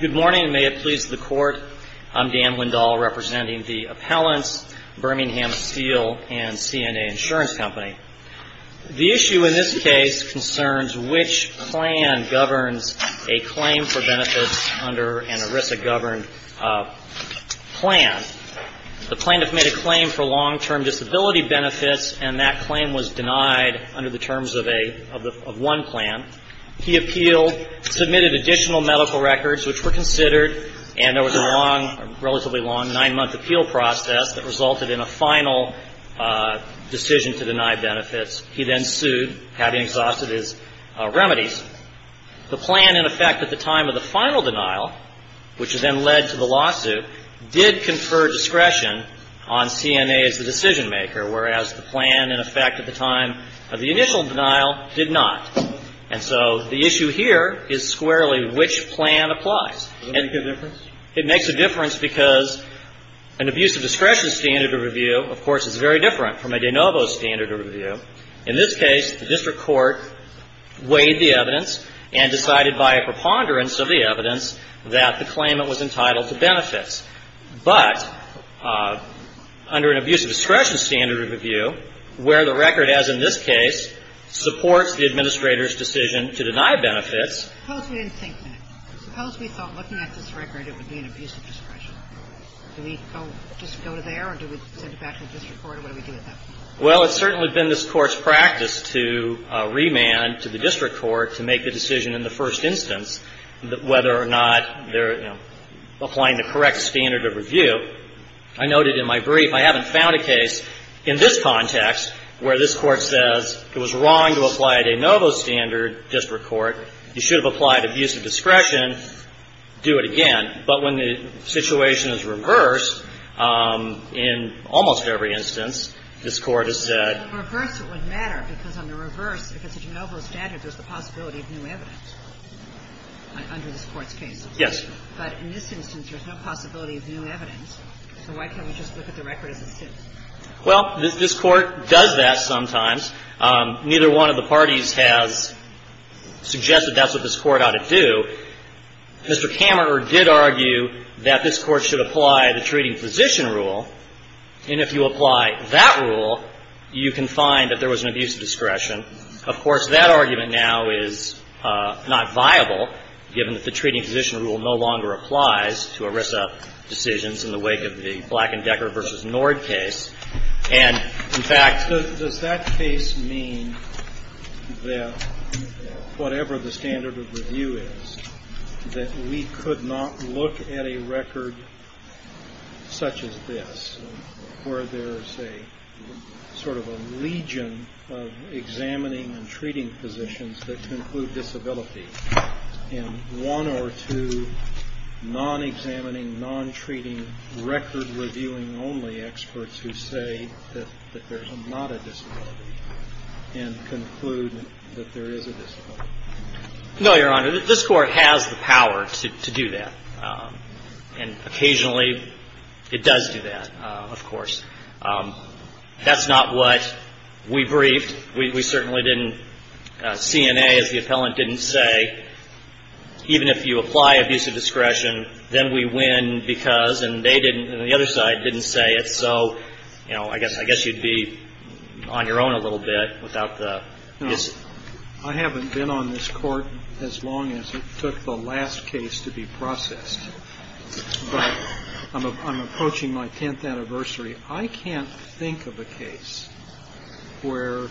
Good morning, and may it please the Court. I'm Dan Windahl, representing the Appellants, Birmingham Steel, and CNA Insurance Company. The issue in this case concerns which plan governs a claim for benefits under an ERISA-governed plan. The plaintiff made a claim for long-term disability benefits, and that claim was denied under the terms of one plan. He appealed, submitted additional medical records which were considered, and there was a relatively long nine-month appeal process that resulted in a final decision to deny benefits. He then sued, having exhausted his remedies. The plan, in effect, at the time of the final denial, which then led to the lawsuit, did confer discretion on CNA as the decision-maker, whereas the plan, in effect, at the time of the initial denial, did not. And so the issue here is squarely which plan applies. Does it make a difference? It makes a difference because an abuse of discretion standard of review, of course, is very different from a de novo standard of review. In this case, the district court weighed the evidence and decided by a preponderance of the evidence that the claimant was entitled to benefits. But under an abuse of discretion standard of review, where the record, as in this case, supports the administrator's decision to deny benefits. Suppose we didn't think that. Suppose we thought looking at this record, it would be an abuse of discretion. Do we just go there, or do we send it back to the district court, or what do we do with that? Well, it's certainly been this Court's practice to remand to the district court to make the decision in the first instance whether or not they're, you know, applying the correct standard of review. I noted in my brief, I haven't found a case in this context where this Court says it was wrong to apply a de novo standard, district court. You should have applied abuse of discretion. Do it again. But when the situation is reversed, in almost every instance, this Court has said. But in the reverse, it would matter, because on the reverse, if it's a de novo standard, there's the possibility of new evidence under this Court's case. Yes. But in this instance, there's no possibility of new evidence. So why can't we just look at the record as it sits? Well, this Court does that sometimes. Neither one of the parties has suggested that's what this Court ought to do. Mr. Kammerer did argue that this Court should apply the treating physician rule. And if you apply that rule, you can find that there was an abuse of discretion. Of course, that argument now is not viable, given that the treating physician rule no longer applies to ERISA decisions in the wake of the Black and Decker v. Nord case. And, in fact, does that case mean that whatever the standard of review is, that we could not look at a record such as this, where there's a sort of a legion of examining and treating physicians that include disability, and one or two non-examining, non-treating, record-reviewing-only experts who say that there's not a disability and conclude that there is a disability? No, Your Honor. This Court has the power to do that. And occasionally, it does do that, of course. That's not what we briefed. We certainly didn't. CNA, as the appellant didn't say, even if you apply abuse of discretion, then we win because, and they didn't, and the other side didn't say it. So, you know, I guess you'd be on your own a little bit without the issue. No. I haven't been on this Court as long as it took the last case to be processed. But I'm approaching my tenth anniversary. I can't think of a case where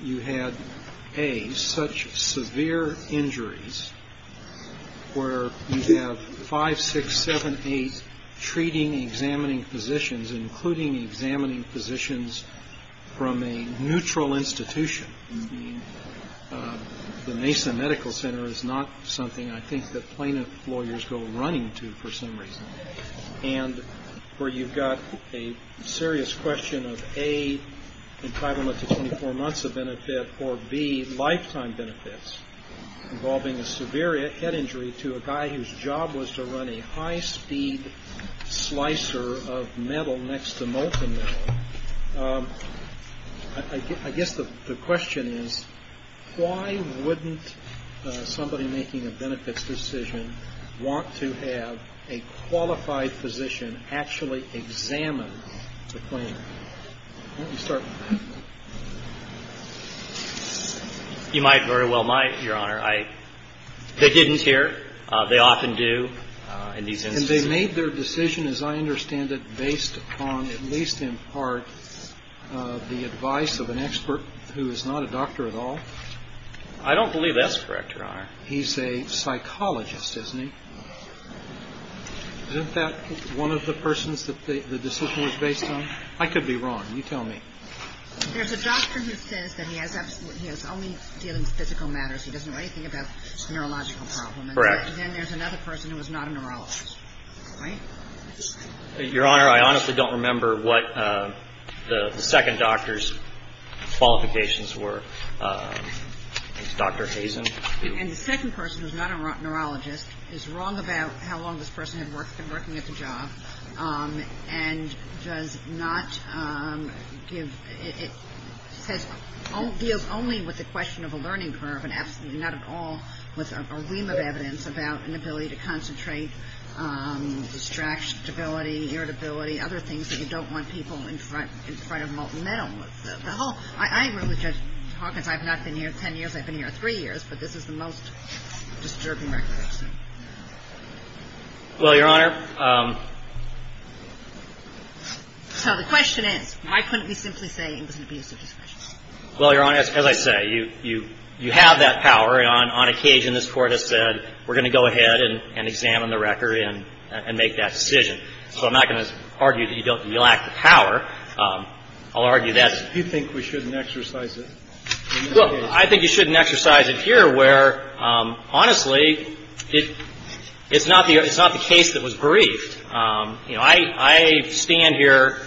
you had, A, such severe injuries, where you have five, six, seven, eight treating, examining physicians, including examining physicians from a neutral institution. I mean, the Mason Medical Center is not something I think that plaintiff lawyers go running to for some reason. And where you've got a serious question of, A, entitlement to 24 months of benefit, or, B, lifetime benefits involving a severe head injury to a guy whose job was to run a high-speed slicer of metal next to molten metal. I guess the question is, why wouldn't somebody making a benefits decision want to have a qualified physician actually examine the claim? Why don't you start with that? You might very well, Your Honor. They didn't here. They often do in these instances. And they made their decision, as I understand it, based upon, at least in part, the advice of an expert who is not a doctor at all? I don't believe that's correct, Your Honor. He's a psychologist, isn't he? Isn't that one of the persons that the decision was based on? I could be wrong. You tell me. There's a doctor who says that he has only dealing with physical matters. He doesn't know anything about neurological problems. Correct. But then there's another person who is not a neurologist. Right? Your Honor, I honestly don't remember what the second doctor's qualifications were. Dr. Hazen? And the second person who's not a neurologist is wrong about how long this person had been working at the job and does not give – Right. And I'm not arguing that in this case, the first person who was not a neurologist was wrong about having the ability to concentrate, distract, stability, irritability, other things that you don't want people in front of a molten metal. I really, Judge Hawkins, I've not been here 10 years. I've been here three years. But this is the most disturbing record I've seen. Well, Your Honor – So the question is, why couldn't we simply say it was an abuse of discretion? Well, Your Honor, as I say, you have that power. And on occasion, this Court has said, we're going to go ahead and examine the record and make that decision. So I'm not going to argue that you lack the power. I'll argue that's – Do you think we shouldn't exercise it? Well, I think you shouldn't exercise it here where, honestly, it's not the case that was briefed. You know, I stand here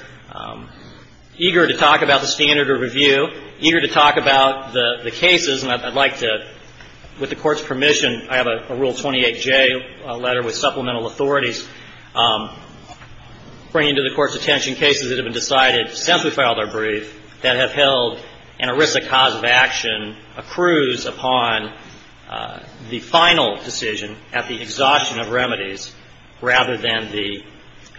eager to talk about the standard of review, eager to talk about the cases. And I'd like to, with the Court's permission, I have a Rule 28J letter with supplemental authorities bringing to the Court's attention cases that have been decided since we filed our brief that have held an erisic cause of action, a cruise upon the final decision at the exhaustion of remedies, rather than the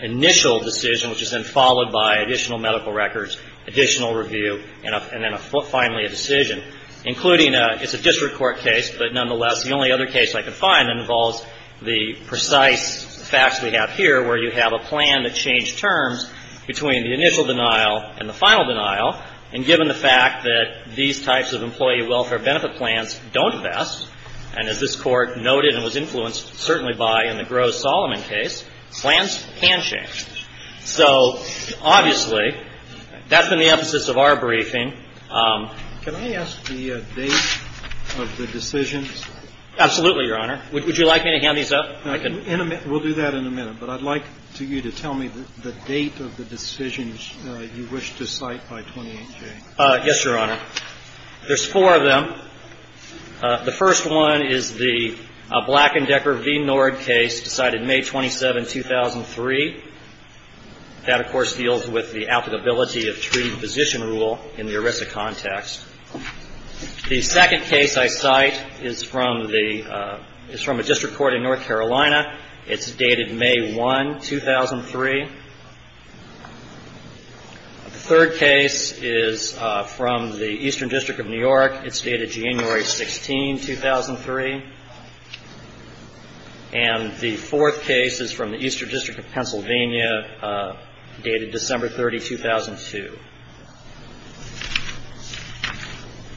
initial decision, which is then followed by additional medical records, additional review, and then finally a decision, including a – it's a district court case, but nonetheless, the only other case I could find that involves the precise facts we have here where you have a plan that changed terms between the initial denial and the final denial. And given the fact that these types of employee welfare benefit plans don't vest, and as this Court noted and was influenced certainly by in the Gross-Solomon case, plans can change. So obviously, that's been the emphasis of our briefing. Can I ask the date of the decision? Absolutely, Your Honor. Would you like me to hand these up? In a minute. We'll do that in a minute. But I'd like you to tell me the date of the decisions you wish to cite by 28J. Yes, Your Honor. There's four of them. The first one is the Black and Decker v. Nord case decided May 27, 2003. That, of course, deals with the applicability of treaty position rule in the erisic context. The second case I cite is from a district court in North Carolina. It's dated May 1, 2003. The third case is from the Eastern District of New York. It's dated January 16, 2003. And the fourth case is from the Eastern District of Pennsylvania, dated December 30, 2002.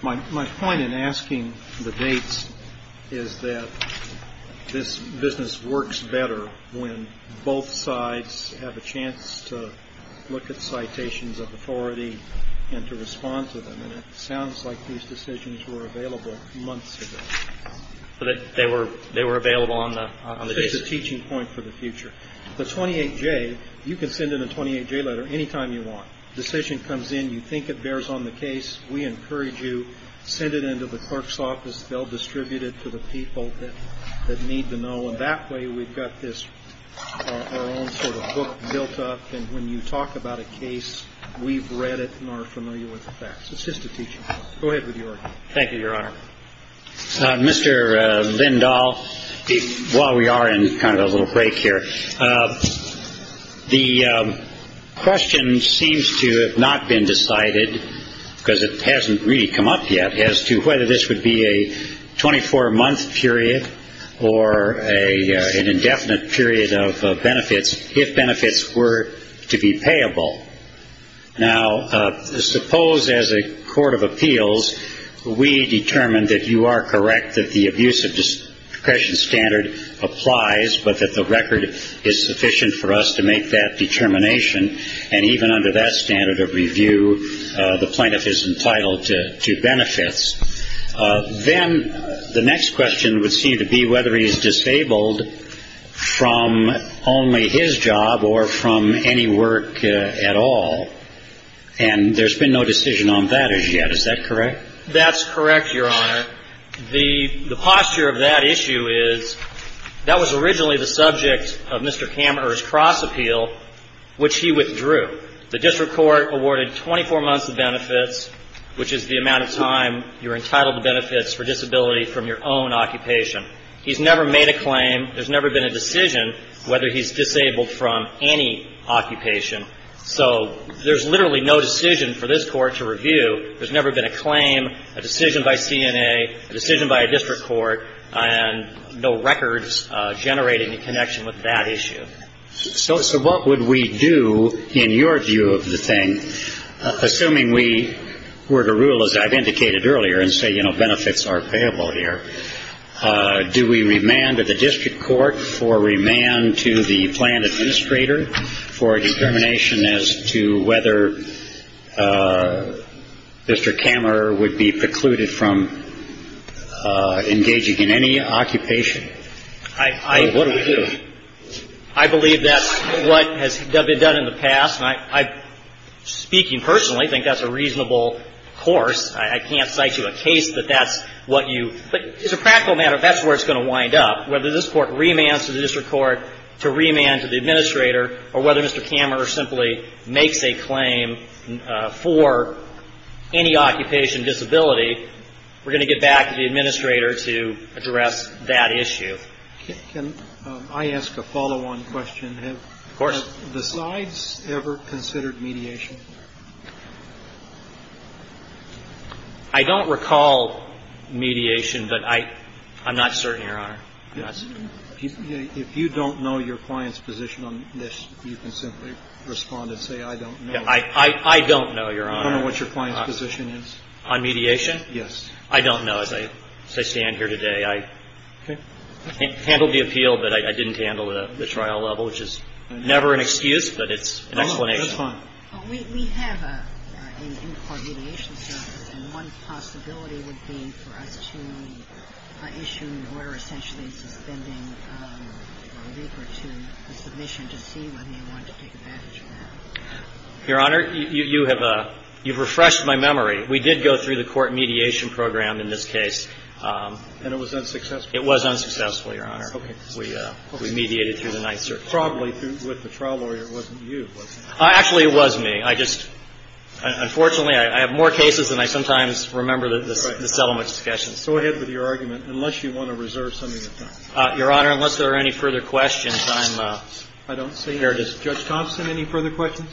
My point in asking the dates is that this business works better when both sides have a chance to look at citations of authority and to respond to them. And it sounds like these decisions were available months ago. They were available on the case? It's a teaching point for the future. The 28J, you can send in a 28J letter any time you want. Decision comes in. You think it bears on the case. We encourage you, send it in to the clerk's office. They'll distribute it to the people that need to know. And that way, we've got this, our own sort of book built up. And when you talk about a case, we've read it and are familiar with the facts. It's just a teaching point. Go ahead with yours. Thank you, Your Honor. Mr. Lindahl, while we are in kind of a little break here, the question seems to have not been decided because it hasn't really come up yet as to whether this would be a 24-month period or an indefinite period of benefits if benefits were to be payable. Now, suppose as a court of appeals we determine that you are correct, that the abuse of discretion standard applies, but that the record is sufficient for us to make that determination. And even under that standard of review, the plaintiff is entitled to benefits. Then the next question would seem to be whether he's disabled from only his job or from any work at all. And there's been no decision on that issue yet. Is that correct? That's correct, Your Honor. The posture of that issue is that was originally the subject of Mr. Kammerer's cross appeal, which he withdrew. The district court awarded 24 months of benefits, which is the amount of time you're entitled to benefits for disability from your own occupation. He's never made a claim. There's never been a decision whether he's disabled from any occupation. So there's literally no decision for this court to review. There's never been a claim, a decision by CNA, a decision by a district court, and no records generate any connection with that issue. So what would we do in your view of the thing? Assuming we were to rule, as I've indicated earlier, and say, you know, benefits are payable here, do we remand to the district court for remand to the plaintiff's administrator for a determination as to whether Mr. Kammerer would be precluded from engaging in any occupation? What would we do? I believe that's what has been done in the past. And I, speaking personally, think that's a reasonable course. I can't cite you a case that that's what you – but as a practical matter, that's where it's going to wind up. Whether this Court remands to the district court to remand to the administrator or whether Mr. Kammerer simply makes a claim for any occupation disability, we're going to get back to the administrator to address that issue. Can I ask a follow-on question? Of course. Have the sides ever considered mediation? I don't recall mediation, but I'm not certain, Your Honor. If you don't know your client's position on this, you can simply respond and say, I don't know. I don't know, Your Honor. You don't know what your client's position is? On mediation? Yes. I don't know, as I stand here today. I handled the appeal, but I didn't handle the trial level, which is never an excuse, but it's an explanation. Oh, that's fine. We have an in-court mediation service, and one possibility would be for us to issue an order essentially suspending a week or two of submission to see whether they wanted to take advantage of that. Your Honor, you have refreshed my memory. We did go through the court mediation program in this case. And it was unsuccessful? It was unsuccessful, Your Honor. Okay. We mediated through the Ninth Circuit. Probably with the trial lawyer, it wasn't you, was it? Actually, it was me. I just ‑‑ unfortunately, I have more cases than I sometimes remember the settlement discussions. Go ahead with your argument, unless you want to reserve some of your time. Your Honor, unless there are any further questions, I'm ‑‑ I don't see, Judge Thompson, any further questions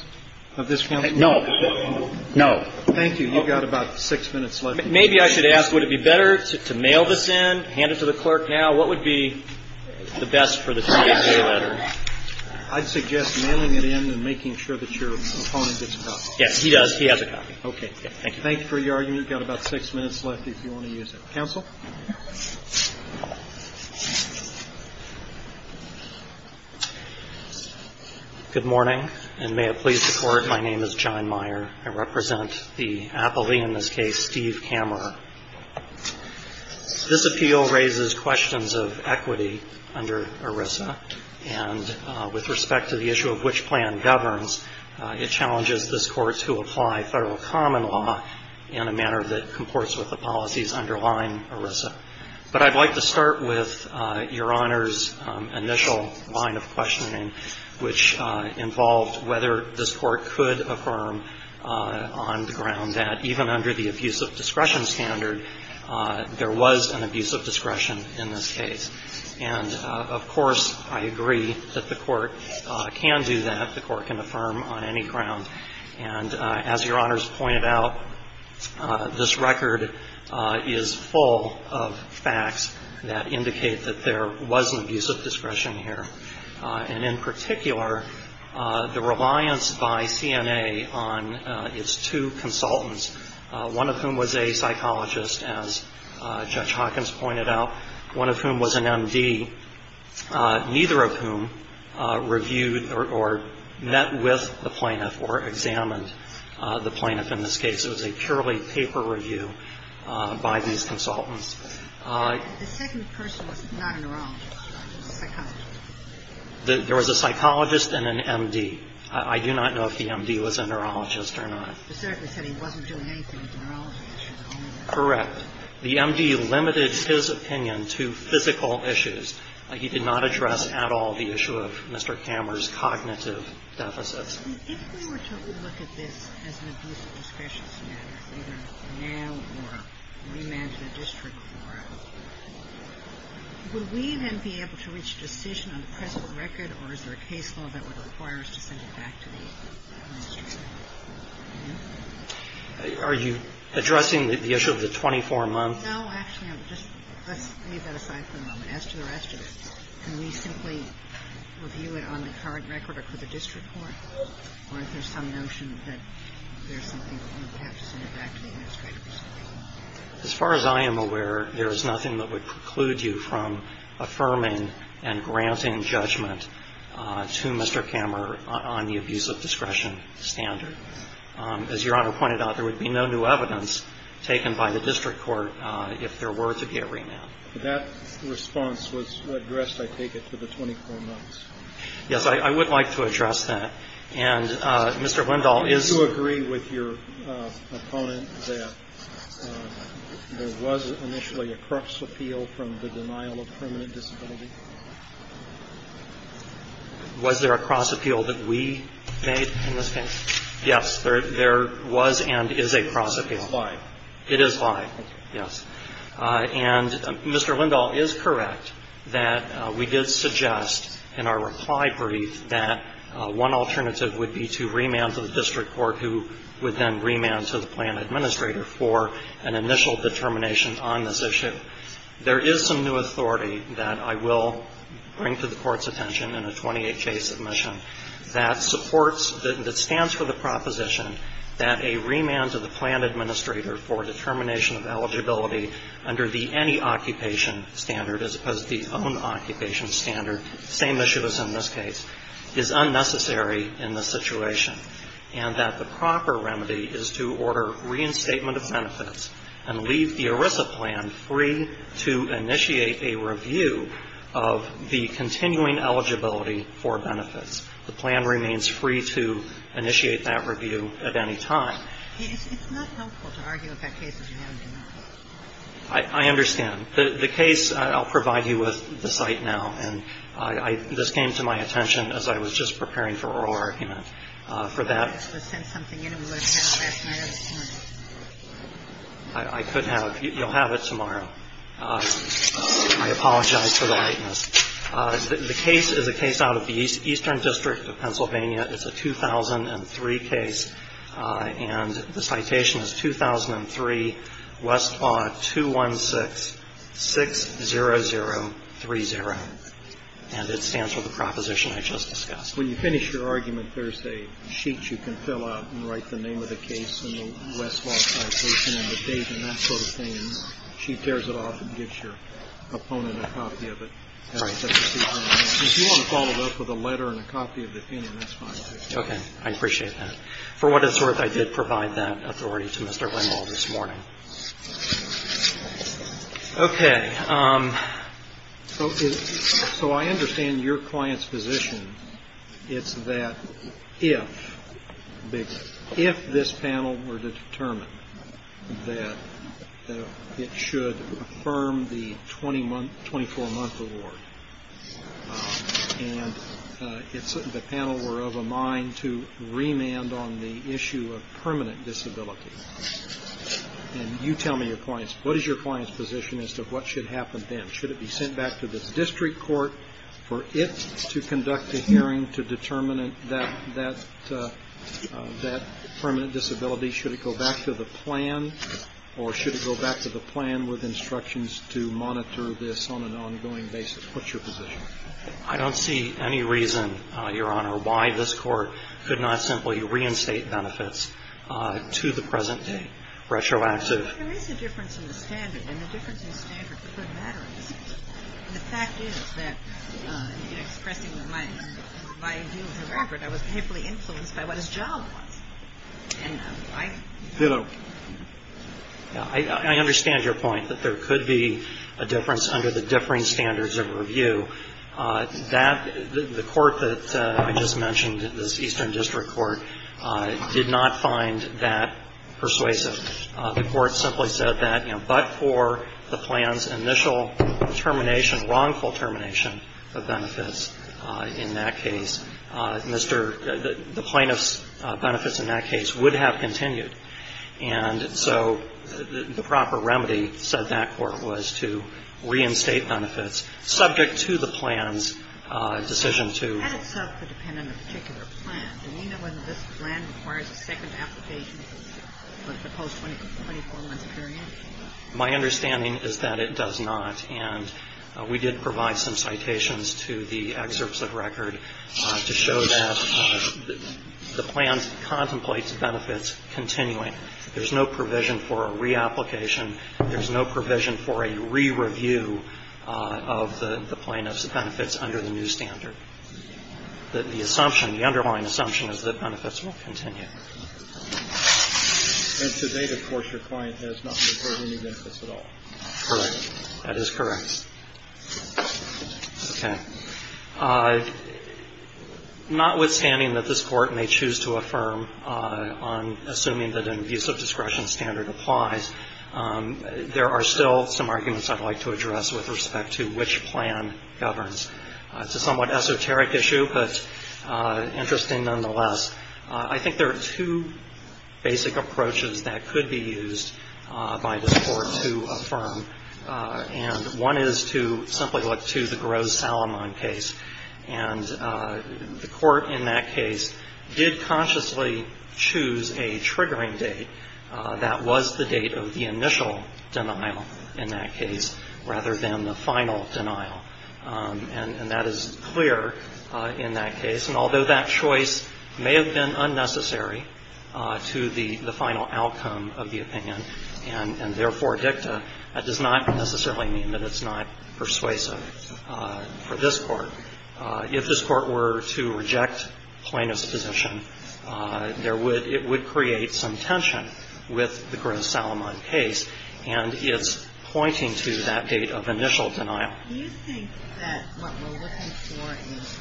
of this counsel? No. Thank you. You've got about six minutes left. Maybe I should ask, would it be better to mail this in, hand it to the clerk now? What would be the best for the TSA letter? I'd suggest mailing it in and making sure that your opponent gets a copy. Yes, he does. He has a copy. Okay. Thank you. Thank you for your argument. You've got about six minutes left if you want to use it. Counsel? Good morning, and may it please the Court, my name is John Meyer. I represent the appellee in this case, Steve Kammerer. This appeal raises questions of equity under ERISA, and with respect to the issue of which plan governs, it challenges this Court to apply federal common law in a manner that comports with the policies underlying ERISA. But I'd like to start with Your Honor's initial line of questioning, which involved whether this Court could affirm on the ground that even under the abusive discretion standard, there was an abusive discretion in this case. And, of course, I agree that the Court can do that. The Court can affirm on any ground. And as Your Honor's pointed out, this record is full of facts that indicate that there was an abusive discretion here. And in particular, the reliance by CNA on its two consultants, one of whom was a psychologist, as Judge Hawkins pointed out, one of whom was an M.D., neither of whom reviewed or met with the plaintiff or examined the plaintiff in this case. It was a purely paper review by these consultants. The second person was not a neurologist. He was a psychologist. There was a psychologist and an M.D. I do not know if the M.D. was a neurologist or not. The therapist said he wasn't doing anything with the neurology issue. Correct. The M.D. limited his opinion to physical issues. He did not address at all the issue of Mr. Kammerer's cognitive deficits. If we were to look at this as an abusive discretion matter, either now or remanded a district court, would we then be able to reach a decision on the present record, or is there a case law that would require us to send it back to the district court? Are you addressing the issue of the 24-month? No. Actually, let's leave that aside for the moment. As to the rest of it, can we simply review it on the current record or for the district court? Or is there some notion that there's something we can perhaps send it back to the administrator or something? As far as I am aware, there is nothing that would preclude you from affirming and granting judgment to Mr. Kammerer on the abusive discretion standard. As Your Honor pointed out, there would be no new evidence taken by the district court if there were to be a remand. That response was addressed, I take it, to the 24 months. Yes. I would like to address that. And Mr. Lindahl is to agree with your opponent that there was initially a cross appeal from the denial of permanent disability. Was there a cross appeal that we made in this case? Yes. There was and is a cross appeal. It is live. It is live, yes. And Mr. Lindahl is correct that we did suggest in our reply brief that one alternative would be to remand to the district court who would then remand to the plan administrator for an initial determination on this issue. There is some new authority that I will bring to the Court's attention in a 28-case submission that supports, that stands for the proposition that a remand to the plan administrator for determination of eligibility under the any occupation standard as opposed to the own occupation standard, same issue as in this case, is unnecessary in this situation and that the proper remedy is to order reinstatement of benefits and leave the ERISA plan free to initiate a review of the continuing eligibility for benefits. The plan remains free to initiate that review at any time. It's not helpful to argue if that case is a no or a no. I understand. The case, I'll provide you with the site now. And I, this came to my attention as I was just preparing for oral argument. For that. We should have sent something in and we would have had it last night at this point. You'll have it tomorrow. I apologize for the lateness. The case is a case out of the Eastern District of Pennsylvania. It's a 2003 case. And the citation is 2003 Westlaw 21660030. And it stands for the proposition I just discussed. When you finish your argument, there's a sheet you can fill out and write the name of the case in the Westlaw citation and the date and that sort of thing. And she tears it off and gives your opponent a copy of it. If you want to follow it up with a letter and a copy of the opinion, that's fine. Okay. I appreciate that. For what it's worth, I did provide that authority to Mr. Ringwald this morning. Okay. So I understand your client's position. It's that if this panel were to determine that it should affirm the 24-month award and the panel were of a mind to remand on the issue of permanent disability. And you tell me your client's position as to what should happen then. Should it be sent back to the district court for it to conduct a hearing to determine that permanent disability? Should it go back to the plan or should it go back to the plan with instructions to monitor this on an ongoing basis? What's your position? I don't see any reason, Your Honor, why this court could not simply reinstate benefits to the present day, retroactive. There is a difference in the standard. And the difference in the standard could matter in the system. And the fact is that, expressing my view of the record, I was painfully influenced by what his job was. And I don't know. I understand your point that there could be a difference under the differing standards of review. That the court that I just mentioned, this Eastern District Court, did not find that persuasive. The court simply said that, you know, but for the plan's initial termination, wrongful termination of benefits in that case, Mr. — the plaintiff's benefits in that case would have continued. And so the proper remedy, said that court, was to reinstate benefits subject to the plan's decision to — My understanding is that it does not. And we did provide some citations to the excerpts of record to show that the plan contemplates benefits continuing. There's no provision for a reapplication. There's no provision for a re-review of the plaintiff's benefits under the new standard. The assumption, the underlying assumption, is that benefits will continue. And to date, of course, your client has not reported any benefits at all. Correct. That is correct. Okay. Notwithstanding that this Court may choose to affirm on assuming that an abusive discretion standard applies, there are still some arguments I'd like to address with respect to which plan governs. It's a somewhat esoteric issue, but interesting nonetheless. I think there are two basic approaches that could be used by this Court to affirm. And one is to simply look to the Gross-Salomon case. And the Court in that case did consciously choose a triggering date. That was the date of the initial denial in that case rather than the final denial. And that is clear in that case. And although that choice may have been unnecessary to the final outcome of the opinion and, therefore, dicta, that does not necessarily mean that it's not persuasive for this Court. If this Court were to reject plaintiff's position, there would – it would create some tension with the Gross-Salomon case. And it's pointing to that date of initial denial. Do you think that what we're looking for is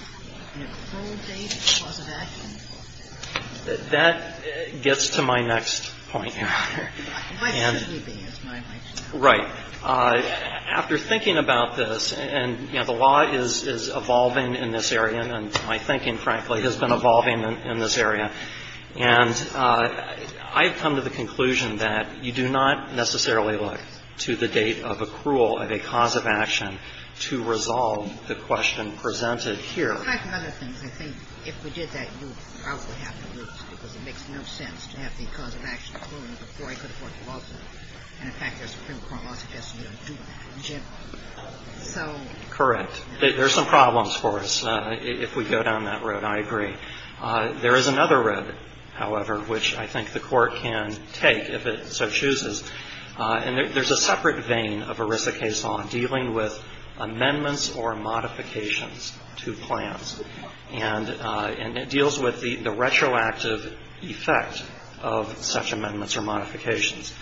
an approval date for the cause of action? That gets to my next point, Your Honor. My question would be, is my question. Right. After thinking about this, and, you know, the law is evolving in this area, and my thinking, frankly, has been evolving in this area, and I've come to the conclusion that you do not necessarily look to the date of accrual of a cause of action to resolve the question presented here. Correct. There are some problems for us, if we go down that road. I agree. There is another road, however, which I think the Court can take if it so chooses. And there's a separate vein of ERISA case law dealing with amendments or modifications I think that's a good point. I think that's a good point. And it deals with the retroactive effect of such amendments or modifications.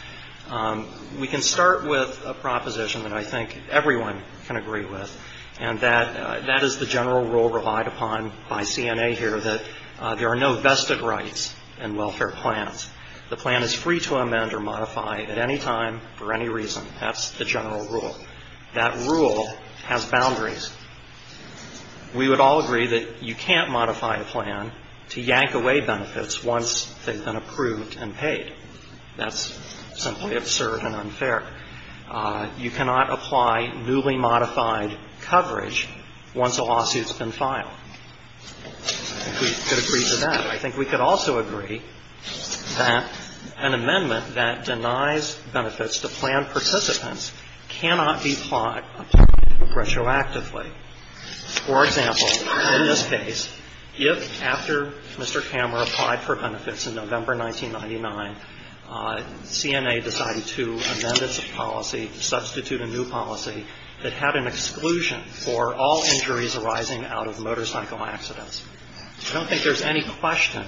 We can start with a proposition that I think everyone can agree with, and that is the general rule relied upon by CNA here, that there are no vested rights in welfare plans. The plan is free to amend or modify at any time for any reason. That's the general rule. That rule has boundaries. We would all agree that you can't modify a plan to yank away benefits once they've been approved and paid. That's simply absurd and unfair. You cannot apply newly modified coverage once a lawsuit's been filed. I think we could agree to that. I think we could also agree that an amendment that denies benefits to plan participants cannot be applied retroactively. For example, in this case, if after Mr. Kammer applied for benefits in November 1999, CNA decided to amend its policy, substitute a new policy that had an exclusion for all injuries arising out of motorcycle accidents, I don't think there's any question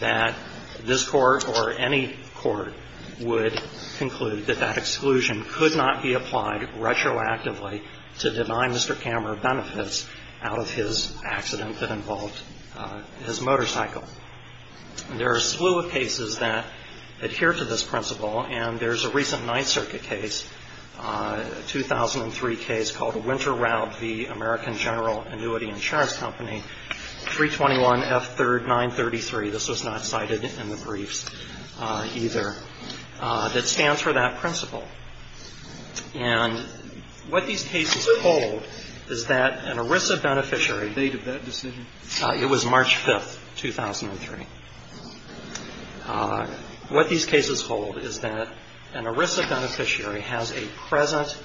that this Court or any court would conclude that that exclusion could not be applied retroactively to deny Mr. Kammer benefits out of his accident that involved his motorcycle. There are a slew of cases that adhere to this principle, and there's a recent Ninth Circuit case, a 2003 case called Winter Route v. American General Annuity Insurance Company, 321 F. 3rd 933. This was not cited in the briefs either, that stands for that principle. And what these cases hold is that an ERISA beneficiary — They did that decision? It was March 5th, 2003. What these cases hold is that an ERISA beneficiary has a present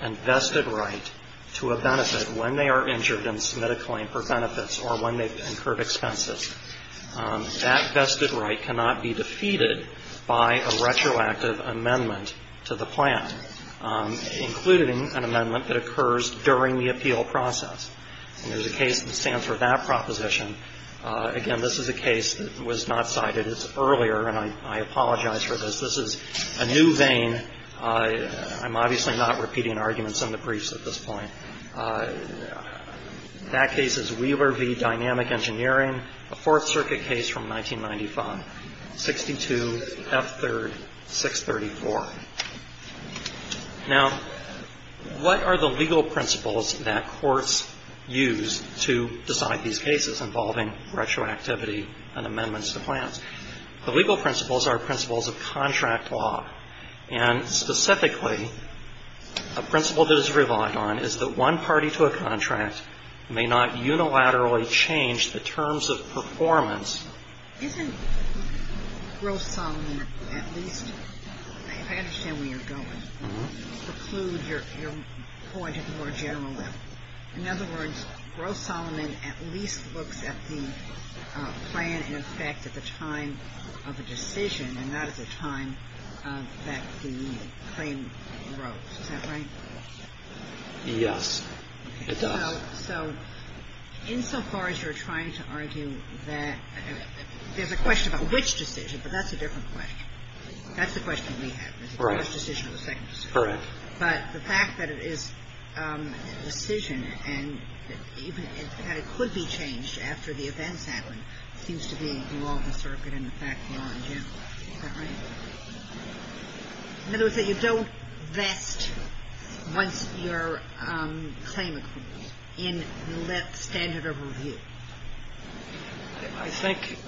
and vested right to a benefit when they are injured and submit a claim for benefits or when they've incurred expenses. That vested right cannot be defeated by a retroactive amendment to the plan, including an amendment that occurs during the appeal process. And there's a case that stands for that proposition. Again, this is a case that was not cited. It's earlier, and I apologize for this. This is a new vein. I'm obviously not repeating arguments in the briefs at this point. That case is Wheeler v. Dynamic Engineering, a Fourth Circuit case from 1995, 62 F. 3rd 634. Now, what are the legal principles that courts use to decide these cases involving retroactivity and amendments to plans? The legal principles are principles of contract law. And specifically, a principle that is relied on is that one party to a contract may not unilaterally change the terms of performance. Isn't Gross-Solomon at least — I understand where you're going. Preclude your point at a more general level. In other words, Gross-Solomon at least looks at the plan in effect at the time of a decision and not at the time that the claim arose. Is that right? Yes, it does. So insofar as you're trying to argue that — there's a question about which decision, but that's a different question. That's the question we have, is it the first decision or the second decision. Correct. But the fact that it is a decision and that it could be changed after the events happen seems to be the law of the circuit and the fact of law in general. Is that right? In other words, that you don't vest once your claim accrues in the standard of review. I think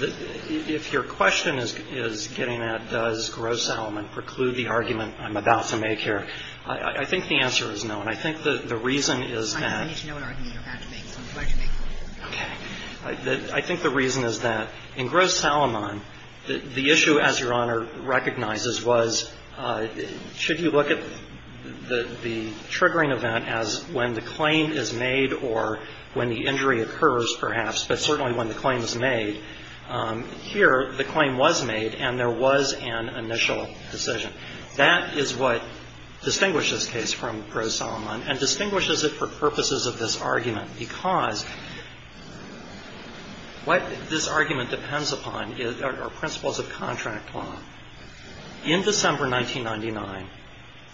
if your question is getting at does Gross-Solomon preclude the argument I'm about to make here, I think the answer is no. And I think the reason is that — I need to know what argument you're about to make, so I'm glad you make the point. Okay. I think the reason is that in Gross-Solomon, the issue, as Your Honor recognizes, was should you look at the triggering event as when the claim is made or when the injury occurs, perhaps, but certainly when the claim is made. Here, the claim was made and there was an initial decision. That is what distinguishes this case from Gross-Solomon and distinguishes it for purposes of this argument because what this argument depends upon are principles of contract law. In December 1999,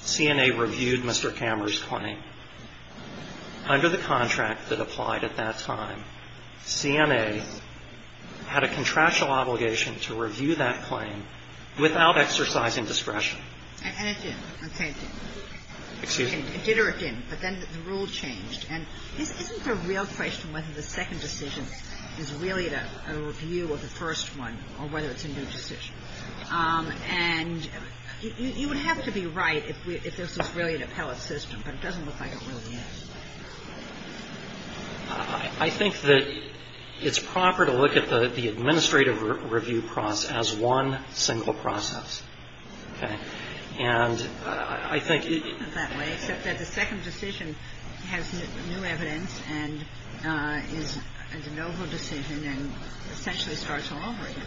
CNA reviewed Mr. Kammerer's claim. Under the contract that applied at that time, CNA had a contractual obligation to review that claim without exercising discretion. And it did. Okay. Excuse me? It did or it didn't, but then the rule changed. And this isn't a real question whether the second decision is really a review of the first one or whether it's a new decision. And you would have to be right if this was really an appellate system, but it doesn't look like it really is. I think that it's proper to look at the administrative review process as one single process. Okay. And I think it — It doesn't look that way, except that the second decision has new evidence and is a noble decision and essentially starts all over again.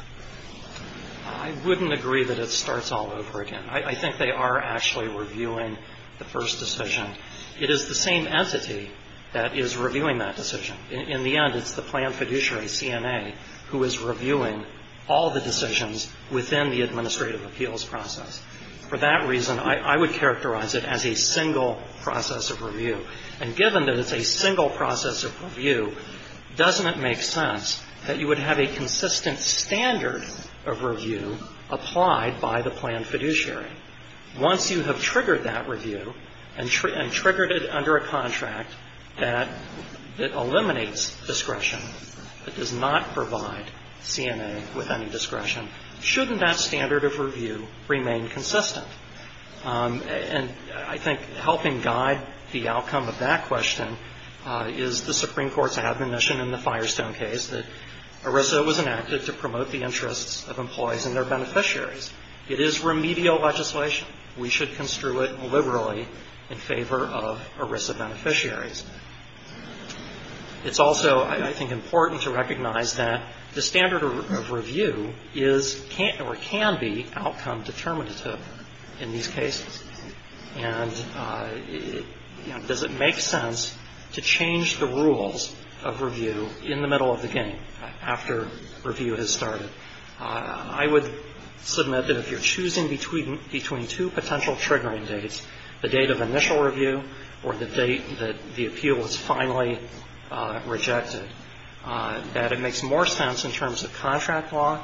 I wouldn't agree that it starts all over again. I think they are actually reviewing the first decision. It is the same entity that is reviewing that decision. In the end, it's the planned fiduciary, CNA, who is reviewing all the decisions within the administrative appeals process. For that reason, I would characterize it as a single process of review. And given that it's a single process of review, doesn't it make sense that you would have a consistent standard of review applied by the planned fiduciary? Once you have triggered that review and triggered it under a contract that eliminates discretion, that does not provide CNA with any discretion, shouldn't that standard of review remain consistent? And I think helping guide the outcome of that question is the Supreme Court's admonition in the Firestone case that ERISA was enacted to promote the interests of employees and their beneficiaries. It is remedial legislation. We should construe it liberally in favor of ERISA beneficiaries. It's also, I think, important to recognize that the standard of review is or can be outcome determinative in these cases. And does it make sense to change the rules of review in the middle of the game after review has started? I would submit that if you're choosing between two potential triggering dates, the date of initial review or the date that the appeal is finally rejected, that it makes more sense in terms of contract law,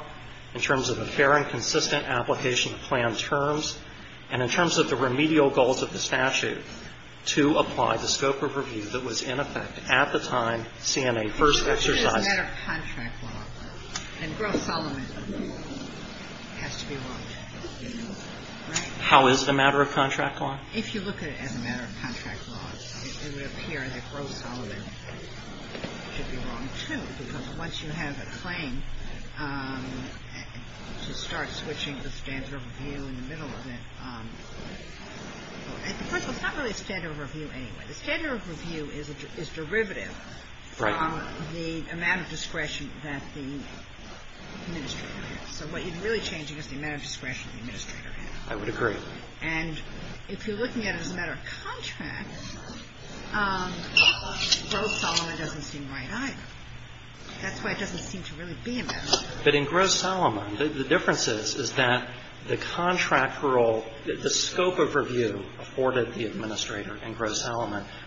in terms of a fair and consistent application of planned terms, and in terms of the remedial goals of the statute to apply the scope of review that was in effect at the time CNA first exercised How is it a matter of contract law? If you look at it as a matter of contract law, it would appear that Groh-Solomon should be wrong, too. Because once you have a claim to start switching the standard of review in the middle of it. First of all, it's not really a standard of review anyway. The standard of review is derivative from the amount of discretion that the administrator has. So what you're really changing is the amount of discretion the administrator has. I would agree. And if you're looking at it as a matter of contract, Groh-Solomon doesn't seem right either. That's why it doesn't seem to really be a matter of contract. But in Groh-Solomon, the difference is, is that the contract rule, the scope of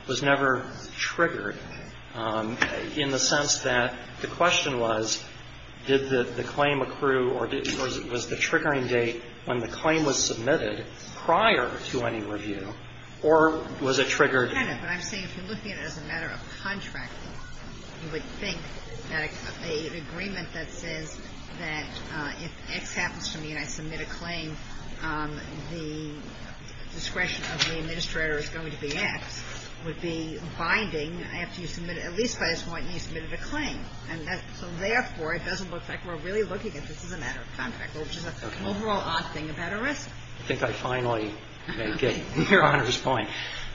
was never triggered, in the sense that the question was, did the claim accrue or was the triggering date when the claim was submitted prior to any review, or was it triggered? But I'm saying if you're looking at it as a matter of contract, you would think that an agreement that says that if X happens to me and I submit a claim, the discretion of the administrator is going to be X, would be binding after you submit, at least by this point, you submitted a claim. So therefore, it doesn't look like we're really looking at this as a matter of contract, which is an overall odd thing about a risk. I think I finally make it to Your Honor's point.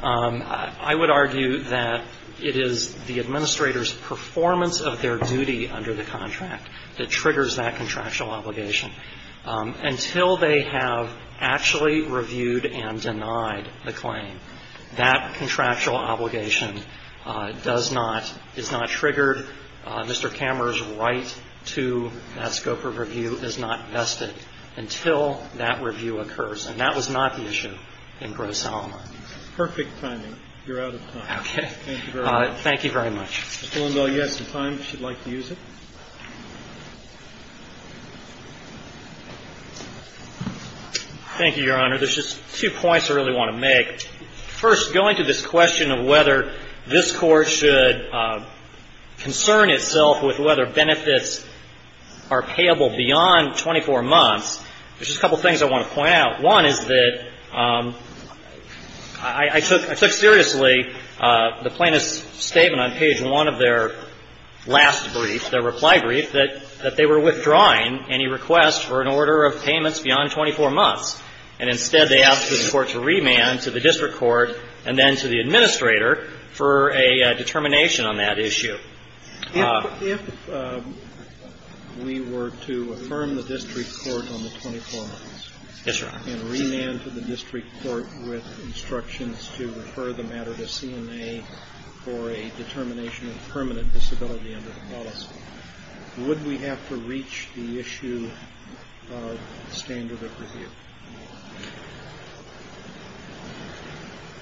I would argue that it is the administrator's performance of their duty under the contract that triggers that contractual obligation. Until they have actually reviewed and denied the claim, that contractual obligation does not, is not triggered. Mr. Kammerer's right to that scope of review is not vested until that review occurs. And that was not the issue in Groh-Solomon. Perfect timing. You're out of time. Okay. Thank you very much. Thank you very much. Mr. Lindell, you have some time if you'd like to use it. Thank you, Your Honor. There's just two points I really want to make. First, going to this question of whether this Court should concern itself with whether benefits are payable beyond 24 months, there's just a couple of things I want to point out. One is that I took seriously the plaintiff's statement on page 1 of their last brief, their reply brief, that they were withdrawing any request for an order of payments beyond 24 months. And instead, they asked the Court to remand to the district court and then to the administrator for a determination on that issue. If we were to affirm the district court on the 24 months. Yes, Your Honor. And remand to the district court with instructions to refer the matter to CNA for a determination of permanent disability under the policy, would we have to reach the issue of standard of review?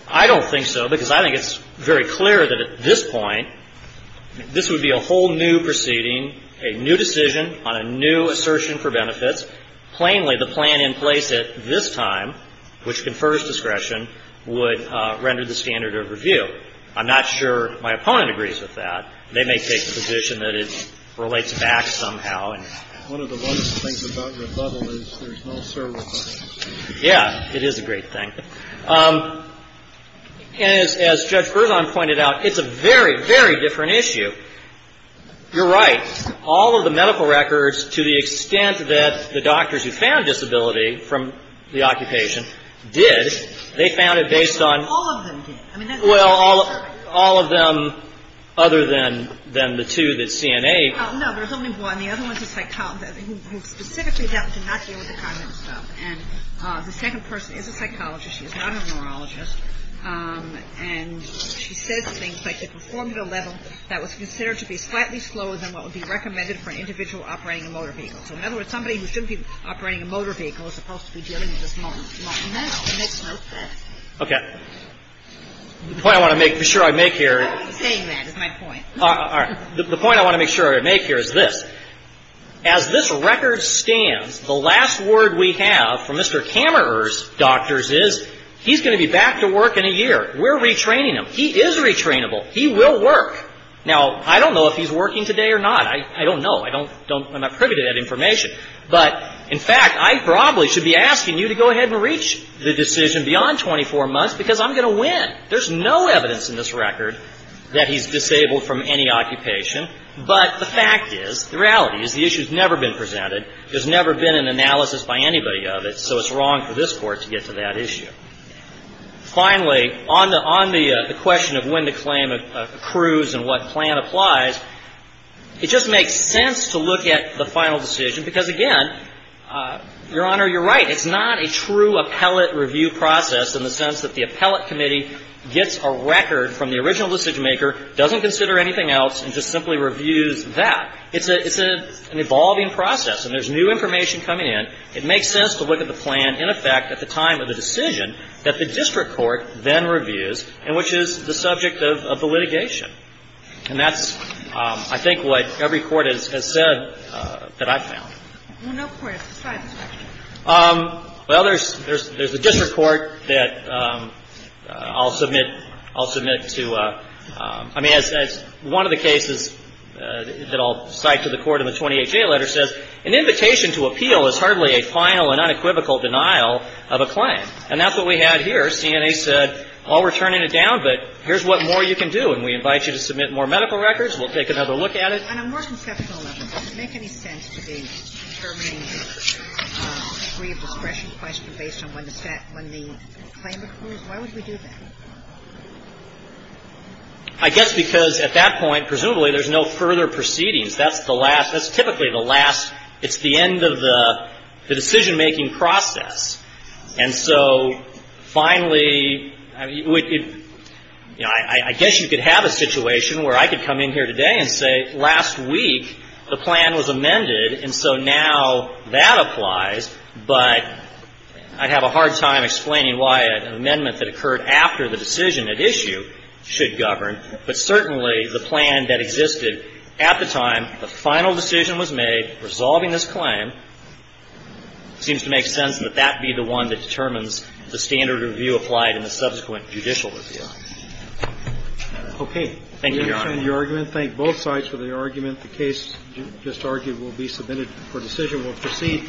I don't think so, because I think it's very clear that at this point, this would be a whole new proceeding, a new decision on a new assertion for benefits. Plainly, the plan in place at this time, which confers discretion, would render the standard of review. I'm not sure my opponent agrees with that. They may take the position that it relates back somehow. One of the lovely things about your bubble is there's no server button. Yeah. It is a great thing. And as Judge Berzon pointed out, it's a very, very different issue. You're right. All of the medical records, to the extent that the doctors who found disability from the occupation did, they found it based on – All of them did. Well, all of them other than the two that CNA – No, there's only one. The other one is a psychologist who specifically did not deal with the cognitive stuff. And the second person is a psychologist. She is not a neurologist. And she says things like they performed at a level that was considered to be slightly slower than what would be recommended for an individual operating a motor vehicle. So in other words, somebody who shouldn't be operating a motor vehicle is supposed to be dealing with this moment, not now. Okay. The point I want to make, for sure I make here – I'm not saying that. It's my point. All right. The point I want to make sure I make here is this. As this record stands, the last word we have from Mr. Kammerer's doctors is he's going to be back to work in a year. We're retraining him. He is retrainable. He will work. Now, I don't know if he's working today or not. I don't know. I don't – I'm not privy to that information. But, in fact, I probably should be asking you to go ahead and reach the decision beyond 24 months because I'm going to win. There's no evidence in this record that he's disabled from any occupation. But the fact is, the reality is the issue has never been presented. There's never been an analysis by anybody of it. So it's wrong for this Court to get to that issue. Finally, on the question of when the claim accrues and what plan applies, it just makes sense to look at the final decision because, again, Your Honor, you're right. It's not a true appellate review process in the sense that the appellate committee gets a record from the original decision-maker, doesn't consider anything else, and just simply reviews that. It's an evolving process. And there's new information coming in. It makes sense to look at the plan, in effect, at the time of the decision that the district court then reviews, and which is the subject of the litigation. And that's, I think, what every court has said that I've found. Well, no court has described this action. Well, there's a district court that I'll submit to. I mean, as one of the cases that I'll cite to the Court in the 28-J letter says, an invitation to appeal is hardly a final and unequivocal denial of a claim. And that's what we had here. CNA said, well, we're turning it down, but here's what more you can do. And we invite you to submit more medical records. We'll take another look at it. And on a more conceptual level, does it make any sense to be determining the degree of discretion question based on when the claim accrues? Why would we do that? I guess because at that point, presumably, there's no further proceedings. That's the last. That's typically the last. It's the end of the decision-making process. And so finally, you know, I guess you could have a situation where I could come in here today and say, last week the plan was amended, and so now that applies. But I'd have a hard time explaining why an amendment that occurred after the decision at issue should govern. But certainly, the plan that existed at the time the final decision was made, resolving this claim, it seems to make sense that that be the one that determines the standard of review applied in the subsequent judicial review. Thank you, Your Honor. We understand your argument. Thank both sides for their argument. The case just argued will be submitted for decision. We'll proceed.